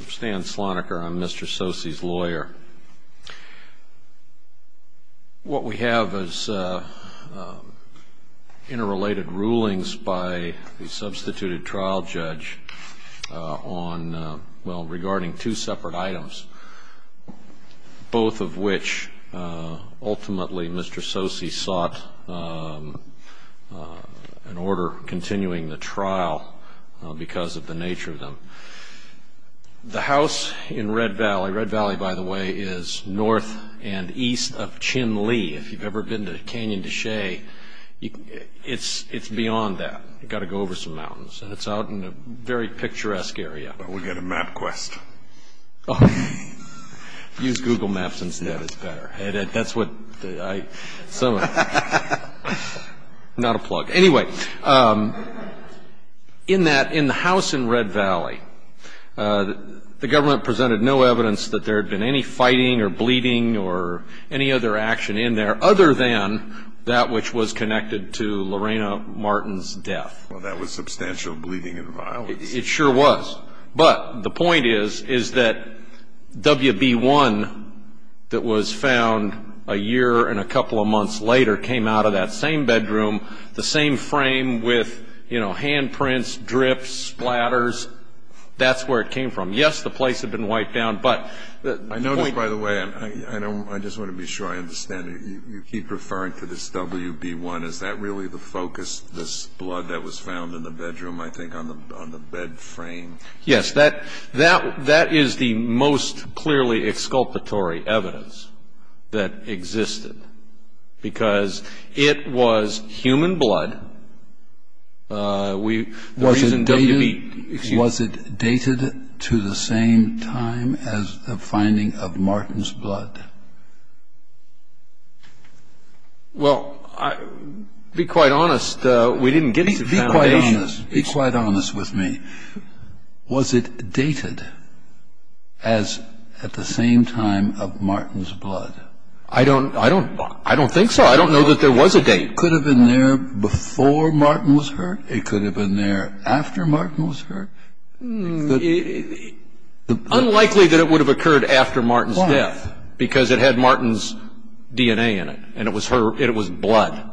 I'm Stan Sloniker I'm Mr. Tsosie's lawyer. What we have is interrelated rulings by the substituted trial judge on well regarding two separate items both of which ultimately Mr. Tsosie sought an order continuing the trial because of the nature of them. The house in Red Valley, Red Valley by the way is north and east of Chinle. If you've ever been to Canyon de Chelly, it's beyond that. You've got to go over some mountains and it's out in a very picturesque area. We've got a map quest. Use Google Maps instead, it's better. Anyway, in the house in Red Valley, the government presented no evidence that there had been any fighting or bleeding or any other action in there other than that which was connected to Lorena Martin's death. Well, that was substantial bleeding and violence. It sure was. But the point is, is that WB1 that was found a year and a couple of months later came out of that same bedroom, the same frame with, you know, hand prints, drips, splatters, that's where it came from. Yes, the place had been wiped down, but the point- I know that, by the way, I just want to be sure I understand it. You keep referring to this WB1. Is that really the focus, this blood that was found in the bedroom, I think on the bed frame? Yes, that is the most clearly exculpatory evidence that existed because it was human blood. Was it dated to the same time as the finding of Martin's blood? Well, be quite honest, we didn't get any- Be quite honest. Be quite honest with me. Was it dated as at the same time of Martin's blood? I don't think so. I don't know that there was a date. It could have been there before Martin was hurt. It could have been there after Martin was hurt. Unlikely that it would have occurred after Martin's death because it had Martin's DNA in it, and it was blood.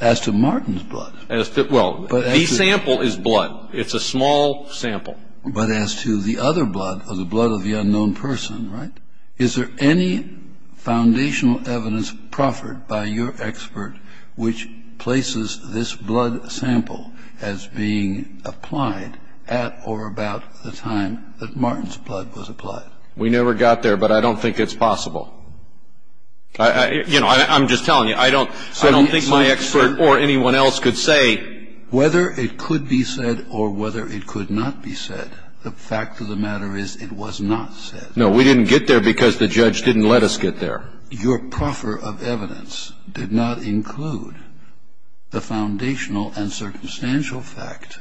As to Martin's blood? Well, the sample is blood. It's a small sample. But as to the other blood, the blood of the unknown person, right, is there any foundational evidence proffered by your expert which places this blood sample as being applied at or about the time that Martin's blood was applied? We never got there, but I don't think it's possible. You know, I'm just telling you, I don't think my expert or anyone else could say- Whether it could be said or whether it could not be said, the fact of the matter is it was not said. No, we didn't get there because the judge didn't let us get there. Your proffer of evidence did not include the foundational and circumstantial fact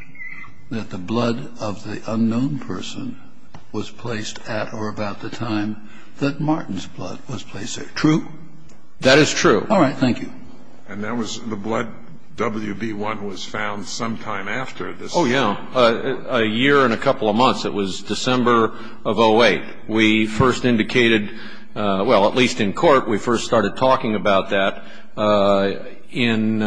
that the blood of the unknown person was placed at or about the time that Martin's blood was placed there. True? That is true. All right. Thank you. And the blood WB1 was found sometime after this? Oh, yeah. A year and a couple of months. It was December of 08. We first indicated, well, at least in court, we first started talking about that on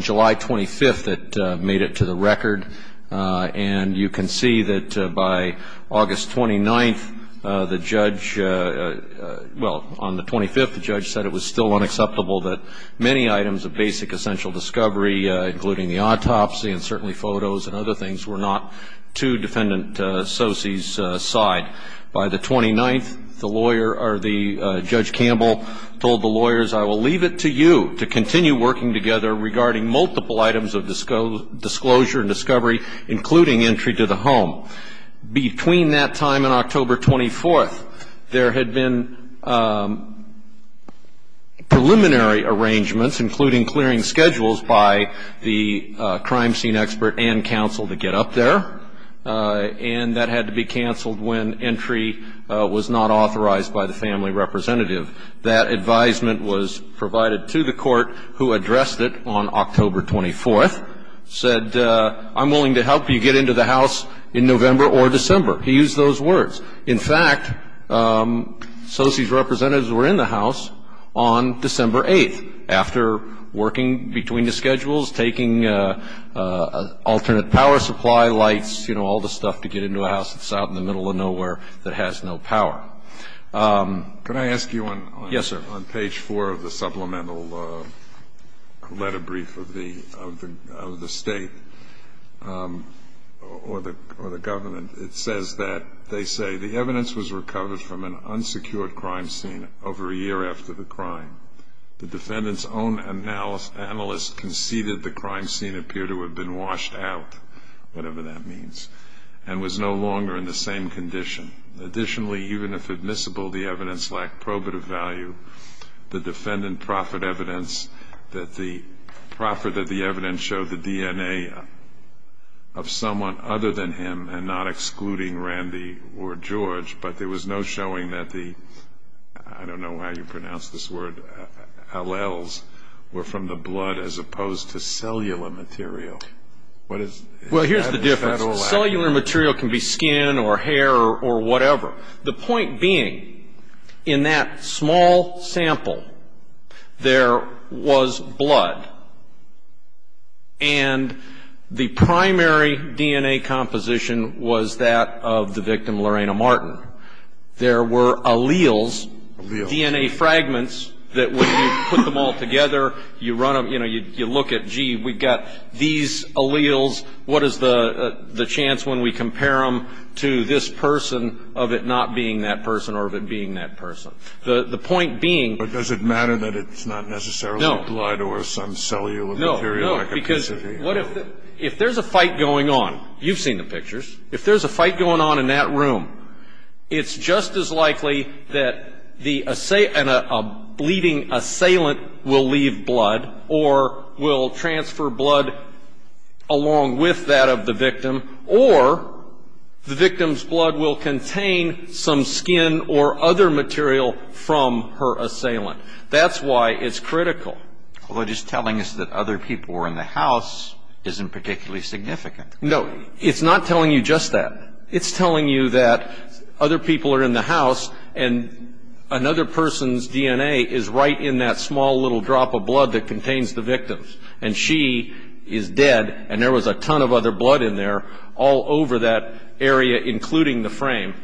July 25th that made it to the record. And you can see that by August 29th, the judge, well, on the 25th, the judge said it was still unacceptable that many items of basic essential discovery, including the autopsy and certainly photos and other things, were not to Defendant Sosey's side. By the 29th, the lawyer or the Judge Campbell told the lawyers, I will leave it to you to continue working together regarding multiple items of disclosure and discovery, including entry to the home. Between that time and October 24th, there had been preliminary arrangements, including clearing schedules by the crime scene expert and counsel to get up there. And that had to be canceled when entry was not authorized by the family representative. That advisement was provided to the court, who addressed it on October 24th, said, I'm willing to help you get into the house in November or December. He used those words. In fact, Sosey's representatives were in the house on December 8th after working between the schedules, taking alternate power supply, lights, you know, all the stuff to get into a house that's out in the middle of nowhere that has no power. Can I ask you on page four of the supplemental letter brief of the state or the government? It says that, they say, the evidence was recovered from an unsecured crime scene over a year after the crime. The defendant's own analyst conceded the crime scene appeared to have been washed out, whatever that means, and was no longer in the same condition. Additionally, even if admissible, the evidence lacked probative value. The defendant proffered evidence that the evidence showed the DNA of someone other than him, and not excluding Randy or George. But there was no showing that the, I don't know how you pronounce this word, alleles were from the blood as opposed to cellular material. Well, here's the difference. Cellular material can be skin or hair or whatever. The point being, in that small sample, there was blood, and the primary DNA composition was that of the victim Lorena Martin. There were alleles, DNA fragments, that when you put them all together, you run them, you know, you look at, gee, we've got these alleles, what is the chance when we compare them to this person of it not being that person or of it being that person? The point being. But does it matter that it's not necessarily blood or some cellular material? No, no, because if there's a fight going on, you've seen the pictures, if there's a fight going on in that room, it's just as likely that the bleeding assailant will leave blood or will transfer blood along with that of the victim, or the victim's blood will contain some skin or other material from her assailant. That's why it's critical. Well, just telling us that other people were in the house isn't particularly significant. No, it's not telling you just that. It's telling you that other people are in the house, and another person's DNA is right in that small little drop of blood that contains the victim's. And she is dead, and there was a ton of other blood in there all over that area, including the frame.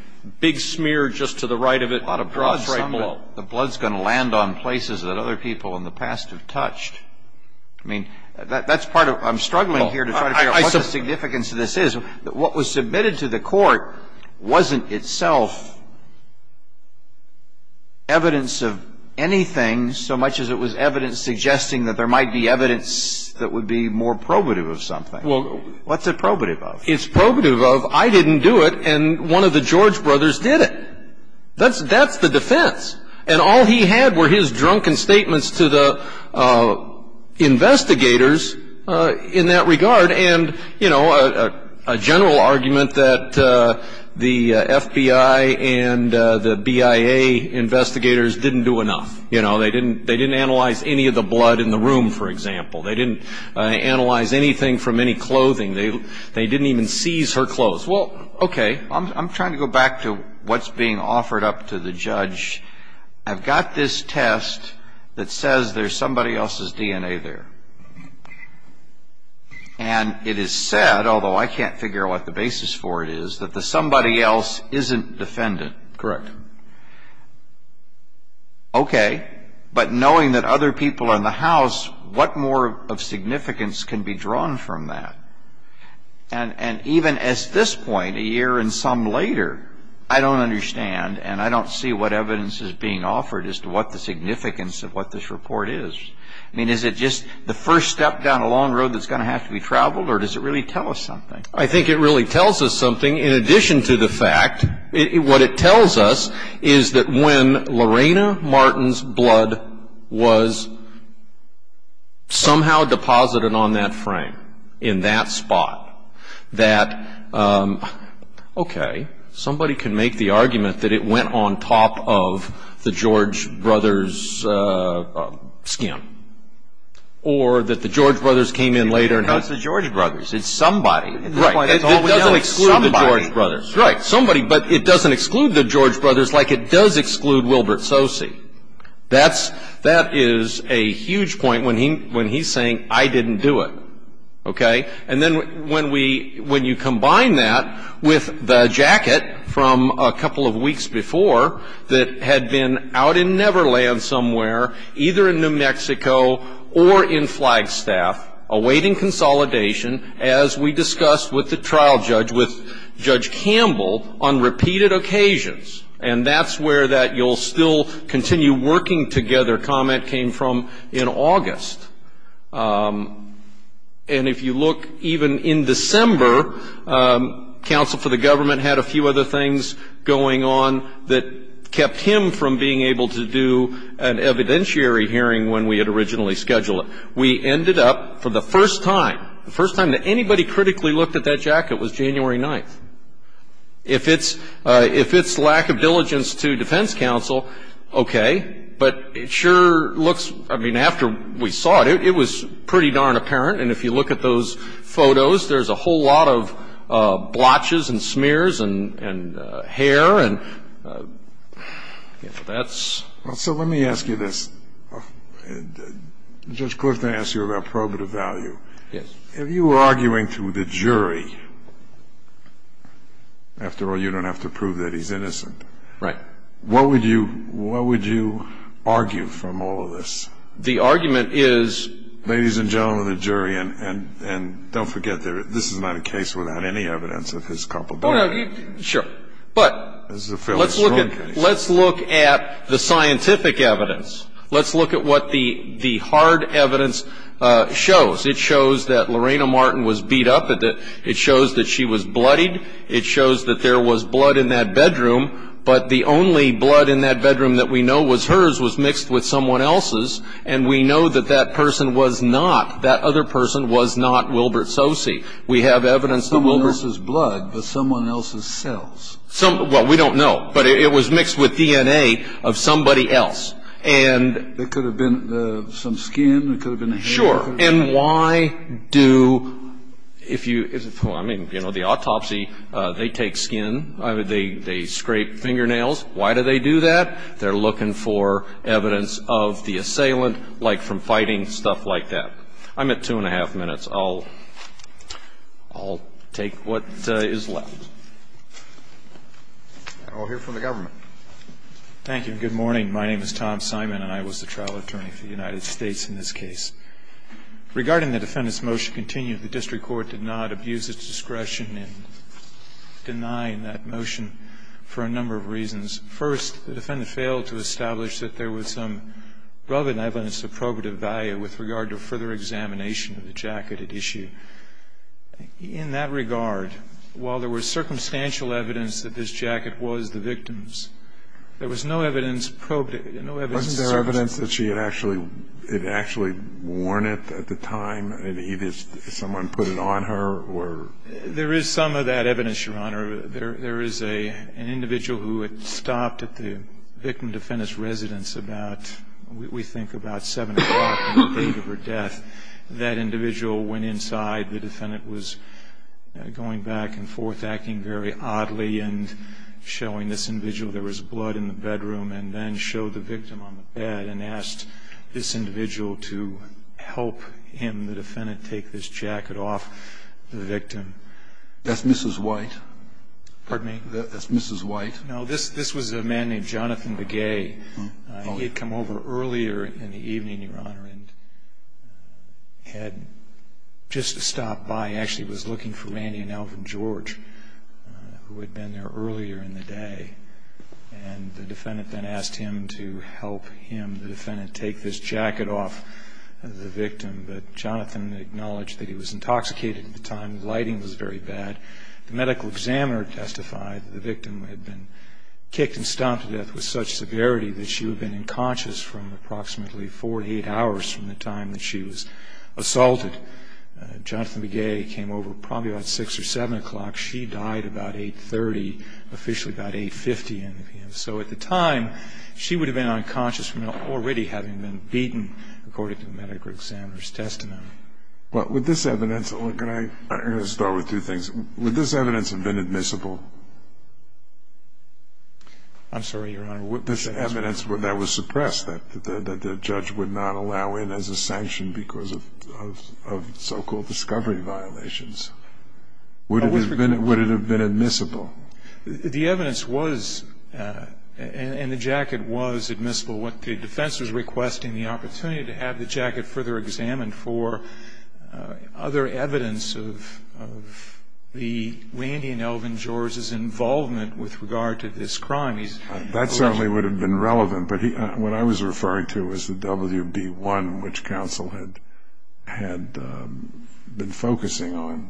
Big smear just to the right of it, drops right below. The blood's going to land on places that other people in the past have touched. I mean, that's part of it. I'm struggling here to try to figure out what the significance of this is. Well, I think it's important to know that what was submitted to the court wasn't itself evidence of anything, so much as it was evidence suggesting that there might be evidence that would be more probative of something. What's it probative of? It's probative of, I didn't do it, and one of the George brothers did it. That's the defense. And all he had were his drunken statements to the investigators in that regard, and, you know, a general argument that the FBI and the BIA investigators didn't do enough. You know, they didn't analyze any of the blood in the room, for example. They didn't analyze anything from any clothing. They didn't even seize her clothes. Well, okay, I'm trying to go back to what's being offered up to the judge. I've got this test that says there's somebody else's DNA there, and it is said, although I can't figure out what the basis for it is, that the somebody else isn't defendant. Correct. Okay, but knowing that other people in the house, what more of significance can be drawn from that? And even at this point, a year and some later, I don't understand, and I don't see what evidence is being offered as to what the significance of what this report is. I mean, is it just the first step down a long road that's going to have to be traveled, or does it really tell us something? I think it really tells us something in addition to the fact, What it tells us is that when Lorena Martin's blood was somehow deposited on that frame, in that spot, that, okay, somebody can make the argument that it went on top of the George brothers' skin, or that the George brothers came in later. It's not the George brothers. It's somebody. Right. It doesn't exclude the George brothers. Right. Somebody, but it doesn't exclude the George brothers like it does exclude Wilbert Sosey. That is a huge point when he's saying, I didn't do it. Okay? And then when you combine that with the jacket from a couple of weeks before that had been out in Neverland somewhere, either in New Mexico or in Flagstaff, awaiting consolidation, as we discussed with the trial judge, with Judge Campbell, on repeated occasions, and that's where that you'll still continue working together comment came from in August. And if you look even in December, counsel for the government had a few other things going on that kept him from being able to do an evidentiary hearing when we had originally scheduled it. We ended up, for the first time, the first time that anybody critically looked at that jacket was January 9th. If it's lack of diligence to defense counsel, okay. But it sure looks, I mean, after we saw it, it was pretty darn apparent. And if you look at those photos, there's a whole lot of blotches and smears and hair. So let me ask you this. Judge Clifton asked you about probative value. Yes. If you were arguing through the jury, after all, you don't have to prove that he's innocent. Right. What would you argue from all of this? The argument is. Ladies and gentlemen of the jury, and don't forget, this is not a case without any evidence of his culpability. Sure. But let's look at the scientific evidence. Let's look at what the hard evidence shows. It shows that Lorena Martin was beat up. It shows that she was bloodied. It shows that there was blood in that bedroom. But the only blood in that bedroom that we know was hers was mixed with someone else's, and we know that that person was not, that other person was not Wilbert Sose. Someone else's blood, but someone else's cells. Well, we don't know. But it was mixed with DNA of somebody else. It could have been some skin. Sure. And why do, if you, I mean, you know, the autopsy, they take skin. They scrape fingernails. Why do they do that? They're looking for evidence of the assailant, like from fighting, stuff like that. I'm at two and a half minutes. I'll take what is left. And we'll hear from the government. Thank you, and good morning. My name is Tom Simon, and I was the trial attorney for the United States in this case. Regarding the defendant's motion to continue, the district court did not abuse its discretion in denying that motion for a number of reasons. First, the defendant failed to establish that there was some relevant evidence of probative value with regard to further examination of the jacket at issue. In that regard, while there was circumstantial evidence that this jacket was the victim's, there was no evidence probative, no evidence. Wasn't there evidence that she had actually, had actually worn it at the time, and either someone put it on her or? There is some of that evidence, Your Honor. There is an individual who had stopped at the victim defendant's residence about, we think, about 7 o'clock at the date of her death. That individual went inside. The defendant was going back and forth acting very oddly and showing this individual there was blood in the bedroom and then showed the victim on the bed and asked this individual to help him, the defendant, take this jacket off the victim. That's Mrs. White? Pardon me? That's Mrs. White? No, this was a man named Jonathan Begay. He had come over earlier in the evening, Your Honor, and had just stopped by. He actually was looking for Randy and Alvin George, who had been there earlier in the day. And the defendant then asked him to help him, the defendant, take this jacket off the victim. But Jonathan acknowledged that he was intoxicated at the time. The lighting was very bad. The medical examiner testified that the victim had been kicked and stomped to death with such severity that she would have been unconscious from approximately 48 hours from the time that she was assaulted. Jonathan Begay came over probably about 6 or 7 o'clock. She died about 8.30, officially about 8.50 in the evening. So at the time, she would have been unconscious from already having been beaten, according to the medical examiner's testimony. With this evidence, can I start with two things? Would this evidence have been admissible? I'm sorry, Your Honor. Would this evidence that was suppressed, that the judge would not allow in as a sanction because of so-called discovery violations, would it have been admissible? The evidence was, and the jacket was admissible. The defense was requesting the opportunity to have the jacket further examined for other evidence of Randy and Elvin George's involvement with regard to this crime. That certainly would have been relevant. But what I was referring to was the WB-1, which counsel had been focusing on.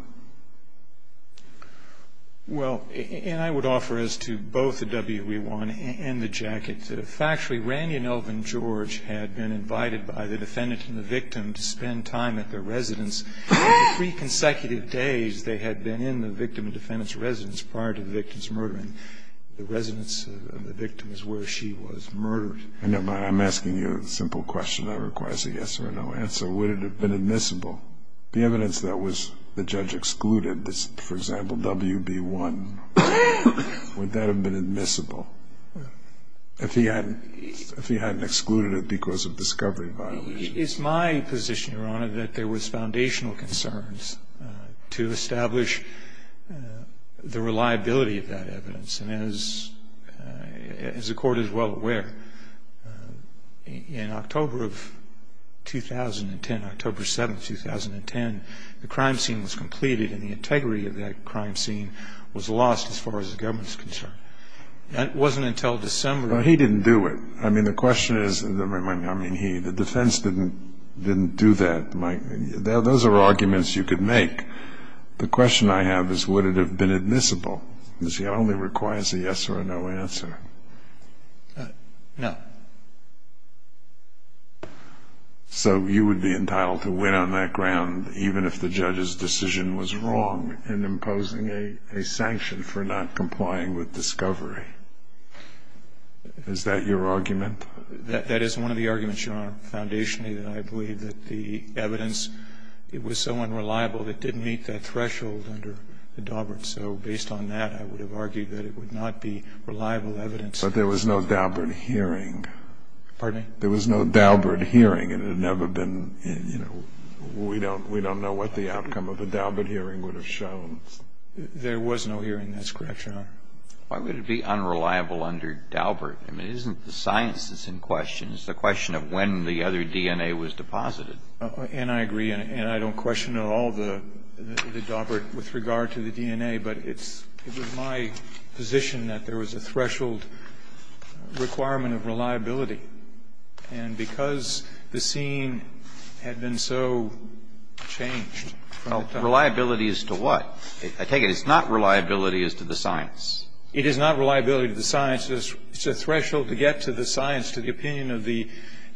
Well, and I would offer as to both the WB-1 and the jacket, that if actually Randy and Elvin George had been invited by the defendant and the victim to spend time at their residence, in the three consecutive days they had been in the victim and defendant's residence prior to the victim's murdering, the residence of the victim is where she was murdered. I'm asking you a simple question that requires a yes or a no answer. Would it have been admissible? The evidence that the judge excluded, for example, WB-1, would that have been admissible? If he hadn't excluded it because of discovery violations. It's my position, Your Honor, that there was foundational concerns to establish the reliability of that evidence. And as the Court is well aware, in October of 2010, October 7, 2010, the crime scene was completed and the integrity of that crime scene was lost as far as the government is concerned. It wasn't until December. Well, he didn't do it. I mean, the question is, I mean, he, the defense didn't do that. Those are arguments you could make. The question I have is would it have been admissible? It only requires a yes or a no answer. No. So you would be entitled to win on that ground even if the judge's decision was wrong in imposing a sanction for not complying with discovery. Is that your argument? That is one of the arguments, Your Honor, foundationally, that I believe that the evidence, it was so unreliable it didn't meet that threshold under the Daubert. So based on that, I would have argued that it would not be reliable evidence. But there was no Daubert hearing. Pardon me? There was no Daubert hearing. It had never been, you know, we don't know what the outcome of the Daubert hearing would have shown. There was no hearing. That's correct, Your Honor. Why would it be unreliable under Daubert? I mean, it isn't the science that's in question. It's the question of when the other DNA was deposited. And I agree. And I don't question at all the Daubert with regard to the DNA. But it was my position that there was a threshold requirement of reliability. And because the scene had been so changed. Well, reliability as to what? I take it it's not reliability as to the science. It is not reliability to the science. It's a threshold to get to the science, to the opinion of the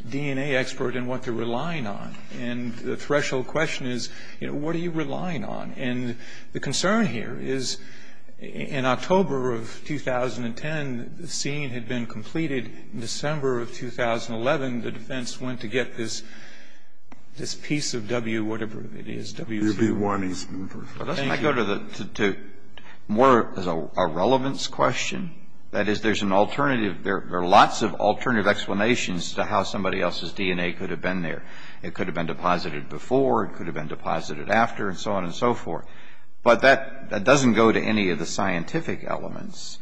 DNA expert and what they're relying on. And the threshold question is, you know, what are you relying on? And the concern here is in October of 2010, the scene had been completed. In December of 2011, the defense went to get this piece of W whatever it is, WC. UB1. Doesn't that go to more of a relevance question? That is, there's an alternative. There are lots of alternative explanations to how somebody else's DNA could have been there. It could have been deposited before. It could have been deposited after and so on and so forth. But that doesn't go to any of the scientific elements.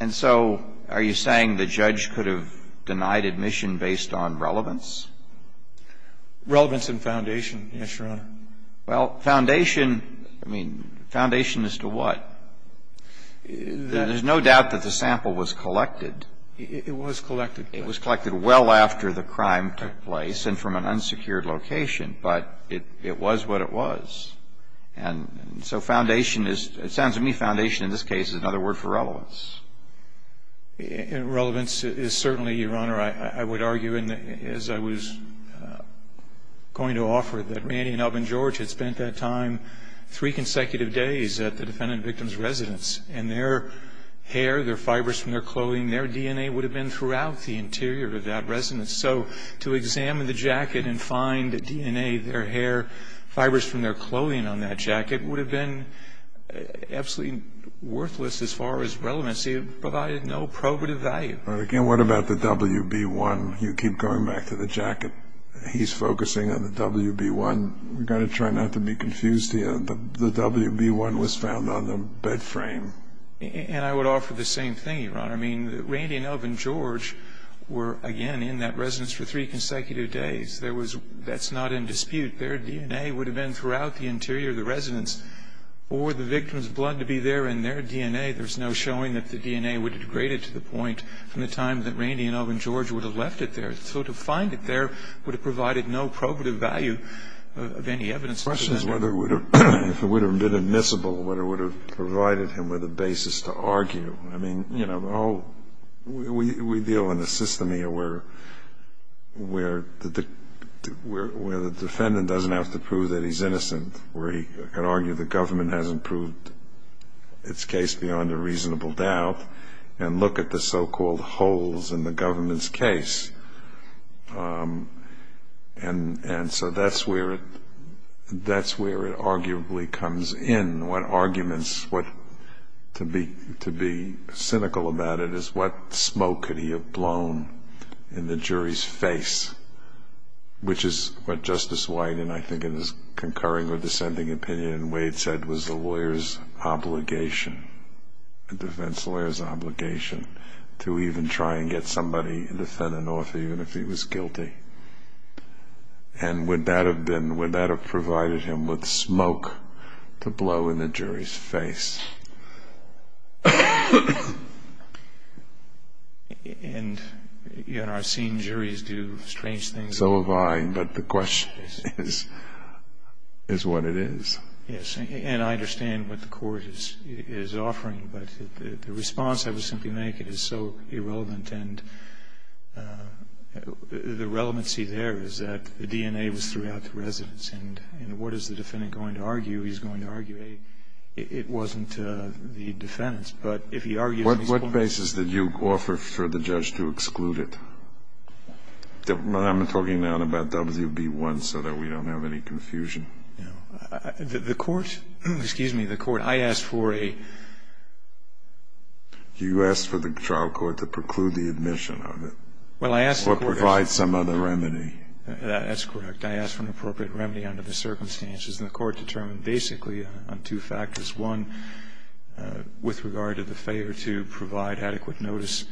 And so are you saying the judge could have denied admission based on relevance? Relevance and foundation, yes, Your Honor. Well, foundation, I mean, foundation as to what? There's no doubt that the sample was collected. It was collected. It was collected well after the crime took place and from an unsecured location. But it was what it was. And so foundation is, it sounds to me foundation in this case is another word for relevance. Relevance is certainly, Your Honor, I would argue, as I was going to offer, that Randy and Elvin George had spent that time three consecutive days at the defendant victim's residence. And their hair, their fibers from their clothing, their DNA would have been throughout the interior of that residence. So to examine the jacket and find DNA, their hair, fibers from their clothing on that jacket would have been absolutely worthless as far as relevance. It provided no probative value. Again, what about the WB-1? You keep going back to the jacket. He's focusing on the WB-1. We've got to try not to be confused here. The WB-1 was found on the bed frame. And I would offer the same thing, Your Honor. I mean, Randy and Elvin George were, again, in that residence for three consecutive days. That's not in dispute. Their DNA would have been throughout the interior of the residence or the victim's blood to be there in their DNA. There's no showing that the DNA would have degraded to the point from the time that Randy and Elvin George would have left it there. So to find it there would have provided no probative value of any evidence. The question is whether it would have been admissible, whether it would have provided him with a basis to argue. I mean, you know, we deal in a system here where the defendant doesn't have to prove that he's innocent, where he can argue the government hasn't proved its case beyond a reasonable doubt and look at the so-called holes in the government's case. And so that's where it arguably comes in. And what arguments to be cynical about it is what smoke could he have blown in the jury's face, which is what Justice Wyden, I think in his concurring or dissenting opinion, Wade said was a lawyer's obligation, a defense lawyer's obligation to even try and get somebody, a defendant, off even if he was guilty. And would that have been, would that have provided him with smoke to blow in the jury's face? And, you know, I've seen juries do strange things. So have I, but the question is what it is. Yes, and I understand what the court is offering, but the response I would simply make is so irrelevant and the relevancy there is that the DNA was throughout the residence. And what is the defendant going to argue? He's going to argue, A, it wasn't the defendant's, but if he argues these points. What basis did you offer for the judge to exclude it? I'm talking now about WB1 so that we don't have any confusion. The court, excuse me, the court, I asked for a. You asked for the trial court to preclude the admission of it. Well, I asked. Or provide some other remedy. That's correct. I asked for an appropriate remedy under the circumstances. And the court determined basically on two factors. One, with regard to the favor to provide adequate notice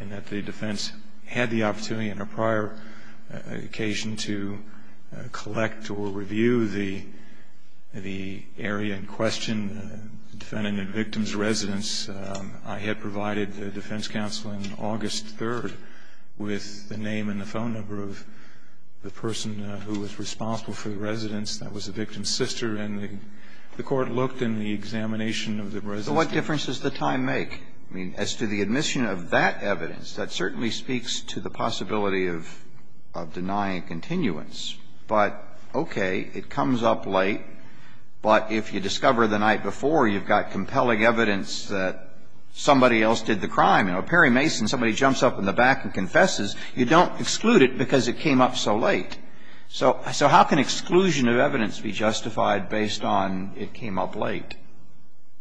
and that the defense had the opportunity on a prior occasion to collect or review the area in question, defendant and victim's residence. I had provided the defense counsel in August 3rd with the name and the phone number of the person who was responsible for the residence. That was the victim's sister. And the court looked in the examination of the residence. So what difference does the time make? I mean, as to the admission of that evidence, that certainly speaks to the possibility of denying continuance. But, okay, it comes up late. But if you discover the night before you've got compelling evidence that somebody else did the crime, you know, Perry Mason, somebody jumps up in the back and confesses, you don't exclude it because it came up so late. So how can exclusion of evidence be justified based on it came up late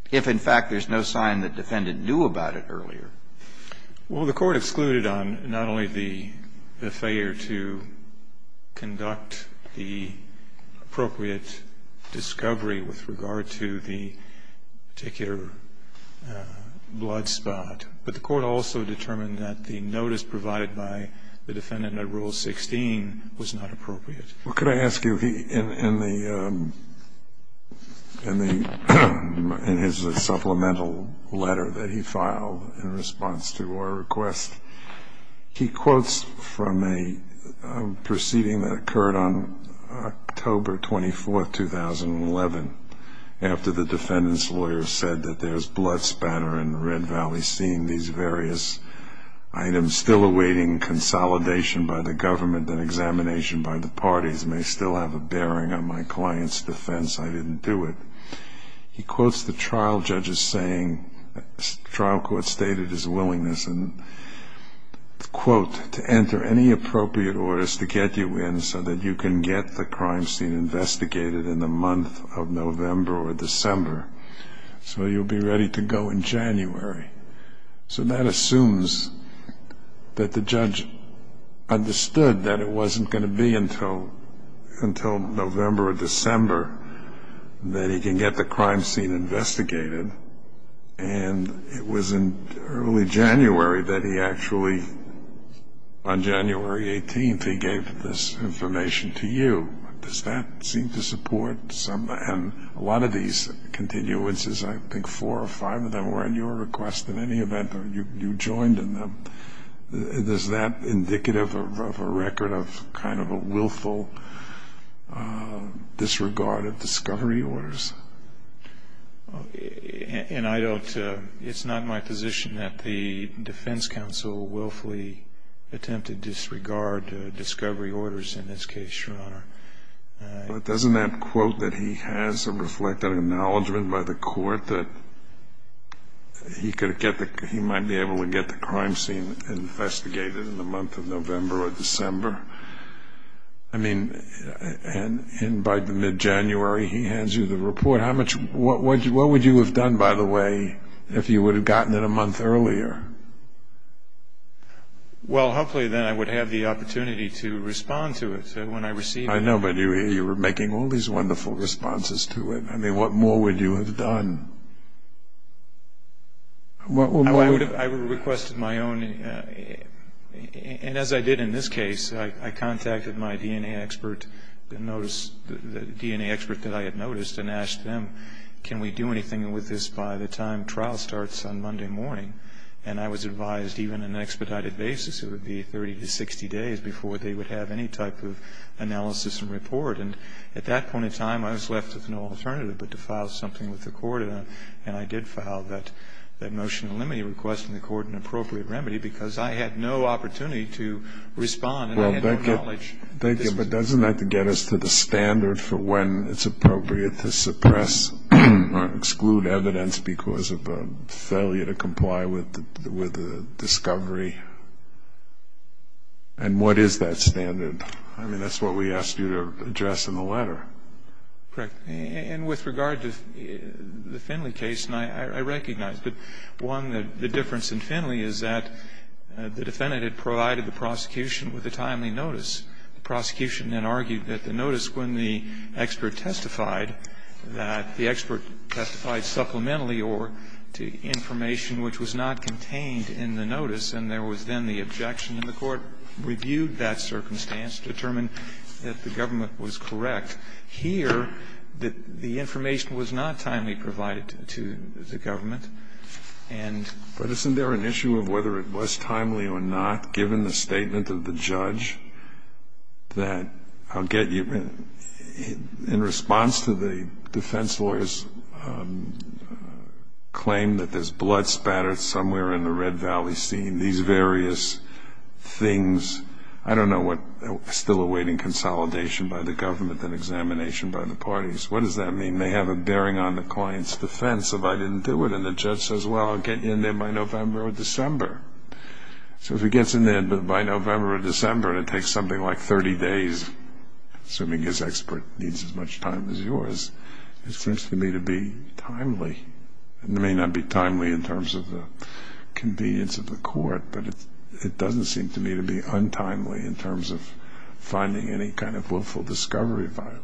if, in fact, there's no sign the defendant knew about it earlier? Well, the court excluded on not only the failure to conduct the appropriate discovery with regard to the particular blood spot, but the court also determined that the notice provided by the defendant under Rule 16 was not appropriate. Well, could I ask you, in his supplemental letter that he filed in response to our request, he quotes from a proceeding that occurred on October 24, 2011, after the defendant's lawyer said that there's blood spatter in the Red Valley, seeing these various items still awaiting consolidation by the government and examination by the parties may still have a bearing on my client's defense. I didn't do it. He quotes the trial judge as saying, trial court stated his willingness, and quote, to enter any appropriate orders to get you in so that you can get the crime scene investigated in the month of November or December so you'll be ready to go in January. So that assumes that the judge understood that it wasn't going to be until November or December that he can get the crime scene investigated, and it was in early January that he actually, on January 18th, he gave this information to you. Does that seem to support some, and a lot of these continuances, I think four or five of them were in your request in any event, or you joined in them. Is that indicative of a record of kind of a willful disregard of discovery orders? And I don't, it's not my position that the defense counsel willfully attempted to disregard discovery orders in this case, Your Honor. But doesn't that quote that he has reflect an acknowledgment by the court that he could get the, he might be able to get the crime scene investigated in the month of November or December? I mean, and by mid-January he hands you the report. How much, what would you have done, by the way, if you would have gotten it a month earlier? Well, hopefully then I would have the opportunity to respond to it when I received it. I know, but you were making all these wonderful responses to it. I mean, what more would you have done? I would have requested my own, and as I did in this case, I contacted my DNA expert, the DNA expert that I had noticed, and asked them, can we do anything with this by the time trial starts on Monday morning? And I was advised, even on an expedited basis, it would be 30 to 60 days before they would have any type of analysis and report. And at that point in time, I was left with no alternative but to file something with the court, and I did file that motion to limit a request from the court and appropriate remedy, because I had no opportunity to respond and I had no knowledge. Thank you. But doesn't that get us to the standard for when it's appropriate to suppress or exclude evidence because of a failure to comply with the discovery? And what is that standard? I mean, that's what we asked you to address in the letter. Correct. And with regard to the Finley case, and I recognize that, one, the difference in Finley is that the defendant had provided the prosecution with a timely notice. The prosecution then argued that the notice, when the expert testified, that the expert testified supplementarily or to information which was not contained in the notice, and there was then the objection, and the court reviewed that circumstance, determined that the government was correct. Here, the information was not timely provided to the government. But isn't there an issue of whether it was timely or not, given the statement of the judge that, I'll get you, in response to the defense lawyer's claim that there's blood spattered somewhere in the Red Valley scene, these various things, I don't know what, still awaiting consolidation by the government and examination by the parties. What does that mean? They have a bearing on the client's defense if I didn't do it, and the judge says, well, I'll get you in there by November or December. So if he gets in there by November or December, and it takes something like 30 days, assuming his expert needs as much time as yours, it seems to me to be timely. It may not be timely in terms of the convenience of the court, but it doesn't seem to me to be untimely in terms of finding any kind of willful discovery violation.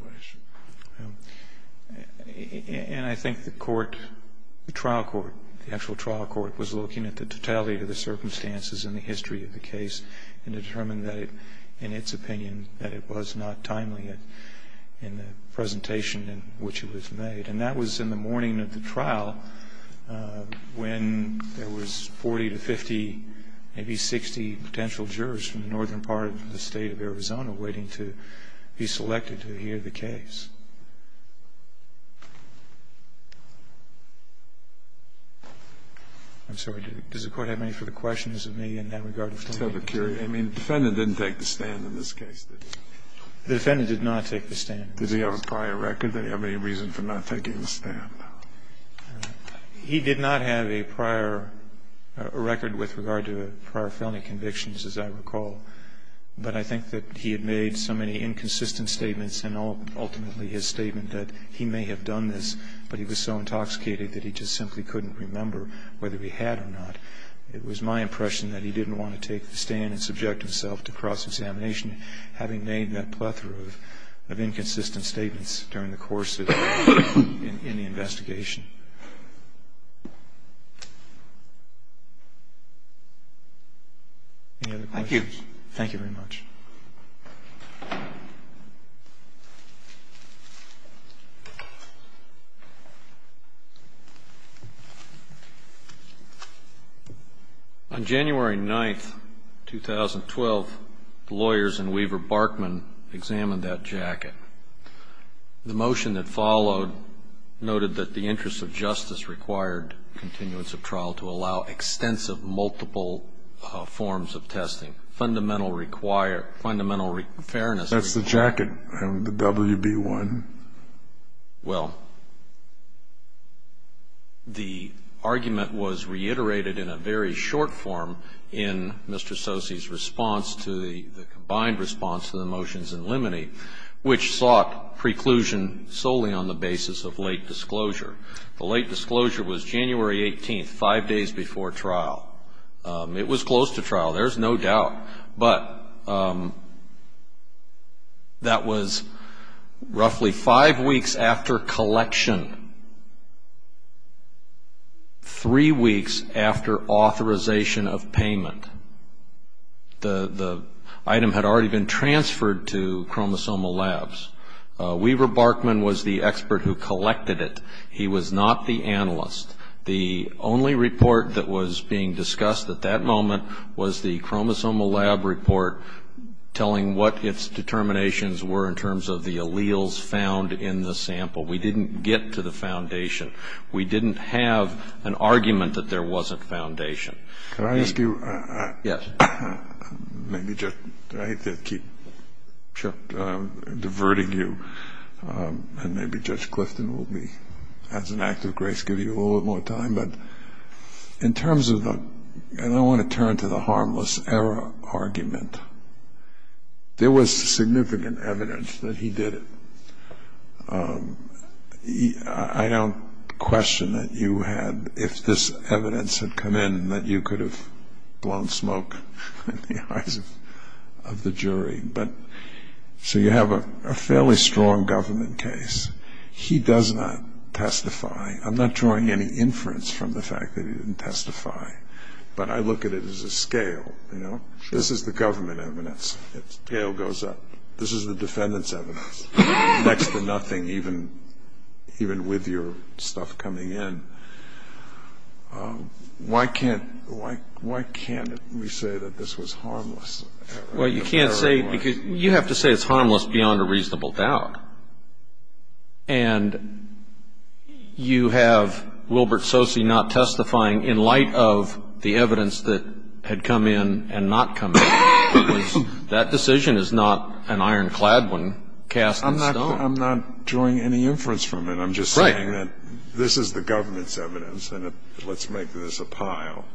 And I think the court, the trial court, the actual trial court, was looking at the totality of the circumstances and the history of the case and determined that it, in its opinion, that it was not timely in the presentation in which it was made. And that was in the morning of the trial when there was 40 to 50, maybe 60 potential jurors from the northern part of the state of Arizona waiting to be selected to hear the case. I'm sorry, does the court have any further questions of me in that regard? I mean, the defendant didn't take the stand in this case, did he? The defendant did not take the stand. Does he have a prior record? Does he have any reason for not taking the stand? He did not have a prior record with regard to prior felony convictions, as I recall. But I think that he had made so many inconsistent statements and ultimately his statement that he may have done this, but he was so intoxicated that he just simply couldn't remember whether he had or not. It was my impression that he didn't want to take the stand and subject himself to cross-examination, having made that plethora of inconsistent statements during the course of the investigation. Any other questions? Thank you. Thank you very much. On January 9, 2012, the lawyers in Weaver-Barkman examined that jacket. The motion that followed noted that the interest of justice required continuance of trial to allow extensive multiple forms of testing, and that the argument was reiterated in a very short form in Mr. Sossi's response to the combined response to the motions in Limine, which sought preclusion solely on the basis of late disclosure. The late disclosure was January 18, five days before trial. It was close to trial. There's no doubt that the motion was reiterated. But that was roughly five weeks after collection, three weeks after authorization of payment. The item had already been transferred to Chromosomal Labs. Weaver-Barkman was the expert who collected it. He was not the analyst. The only report that was being discussed at that moment was the Chromosomal Lab report telling what its determinations were in terms of the alleles found in the sample. We didn't get to the foundation. We didn't have an argument that there wasn't foundation. Can I ask you? Yes. Maybe just I hate to keep diverting you, and maybe Judge Clifton will be, as an act of grace, give you a little more time. But in terms of the, and I want to turn to the harmless error argument, there was significant evidence that he did it. I don't question that you had, if this evidence had come in, that you could have blown smoke in the eyes of the jury. So you have a fairly strong government case. He does not testify. I'm not drawing any inference from the fact that he didn't testify. But I look at it as a scale. This is the government evidence. The scale goes up. This is the defendant's evidence, next to nothing, even with your stuff coming in. Why can't we say that this was harmless error? Well, you can't say, because you have to say it's harmless beyond a reasonable doubt. And you have Wilbert Soce not testifying in light of the evidence that had come in and not come in. That decision is not an ironclad one cast in stone. I'm not drawing any inference from it. I'm just saying that this is the government's evidence, and let's make this a pile.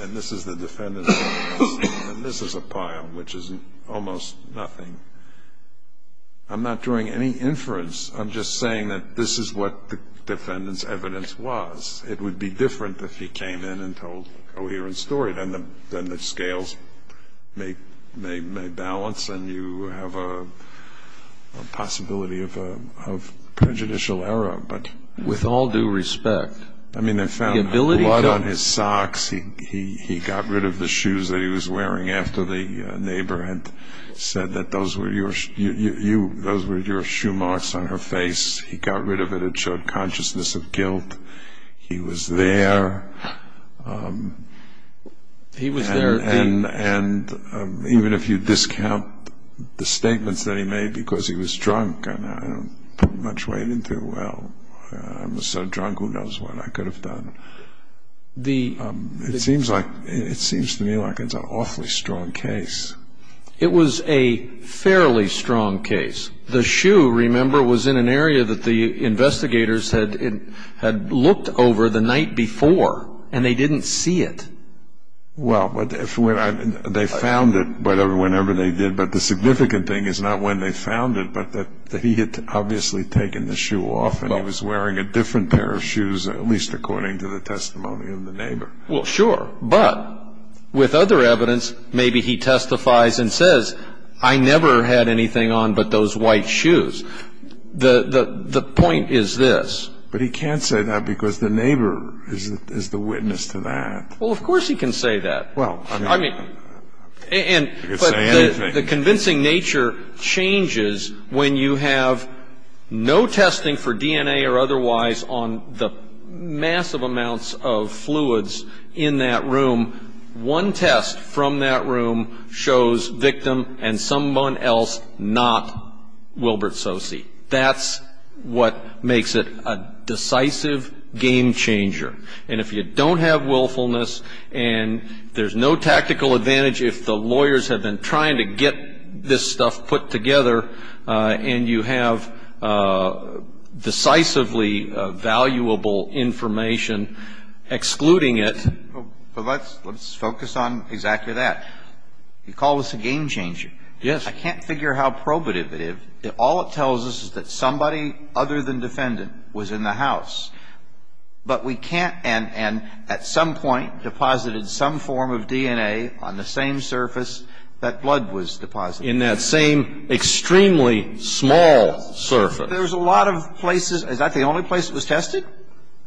And this is the defendant's evidence. And this is a pile, which is almost nothing. I'm not drawing any inference. I'm just saying that this is what the defendant's evidence was. It would be different if he came in and told a coherent story. Then the scales may balance, and you have a possibility of prejudicial error. With all due respect, the ability to- I mean, I found a lot on his socks. He got rid of the shoes that he was wearing after the neighbor had said that those were your shoe marks on her face. He got rid of it. It showed consciousness of guilt. He was there. He was there. And even if you discount the statements that he made because he was drunk, I don't put much weight into, well, I'm so drunk, who knows what I could have done. It seems to me like it's an awfully strong case. It was a fairly strong case. The shoe, remember, was in an area that the investigators had looked over the night before, and they didn't see it. Well, but they found it whenever they did. But the significant thing is not when they found it, but that he had obviously taken the shoe off, and he was wearing a different pair of shoes, at least according to the testimony of the neighbor. Well, sure. But with other evidence, maybe he testifies and says, I never had anything on but those white shoes. The point is this. But he can't say that because the neighbor is the witness to that. Well, of course he can say that. Well, sure. I mean, and but the convincing nature changes when you have no testing for DNA or otherwise on the massive amounts of fluids in that room. One test from that room shows victim and someone else not Wilbert Sose. That's what makes it a decisive game changer. And if you don't have willfulness and there's no tactical advantage, if the lawyers have been trying to get this stuff put together and you have decisively valuable information excluding it. But let's focus on exactly that. You call this a game changer. Yes. I can't figure how probative it is. All it tells us is that somebody other than defendant was in the house. But we can't and at some point deposited some form of DNA on the same surface that blood was deposited. In that same extremely small surface. There's a lot of places. Is that the only place that was tested?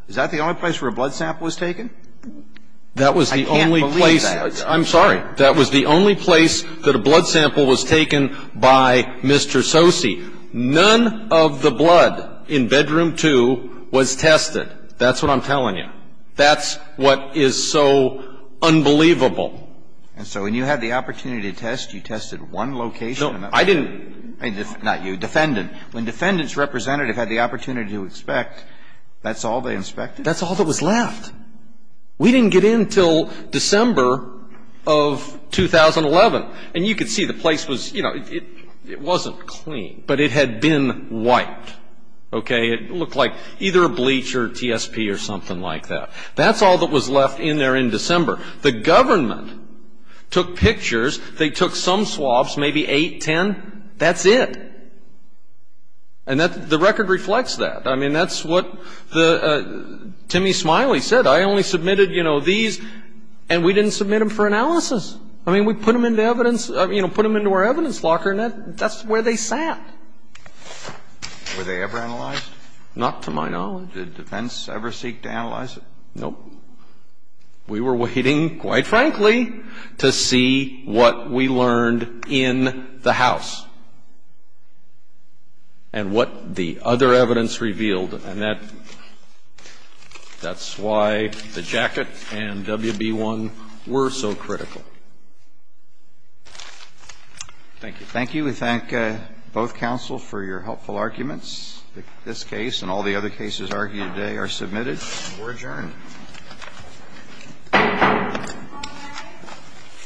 Is that the only place where a blood sample was taken? That was the only place. I can't believe that. I'm sorry. That was the only place that a blood sample was taken by Mr. Sose. None of the blood in bedroom two was tested. That's what I'm telling you. That's what is so unbelievable. And so when you had the opportunity to test, you tested one location? No, I didn't. Not you. Defendant. When defendant's representative had the opportunity to inspect, that's all they inspected? That's all that was left. We didn't get in until December of 2011. And you could see the place was, you know, it wasn't clean. But it had been wiped. Okay? It looked like either bleach or TSP or something like that. That's all that was left in there in December. The government took pictures. They took some swabs, maybe eight, ten. That's it. And the record reflects that. I mean, that's what Timmy Smiley said. I only submitted, you know, these. And we didn't submit them for analysis. I mean, we put them into evidence, you know, put them into our evidence locker, and that's where they sat. Were they ever analyzed? Not to my knowledge. Did defense ever seek to analyze it? Nope. We were waiting, quite frankly, to see what we learned in the house and what the other evidence revealed. And that's why the jacket and WB-1 were so critical. Thank you. Thank you. We thank both counsel for your helpful arguments. This case and all the other cases argued today are submitted. We're adjourned. Thank you.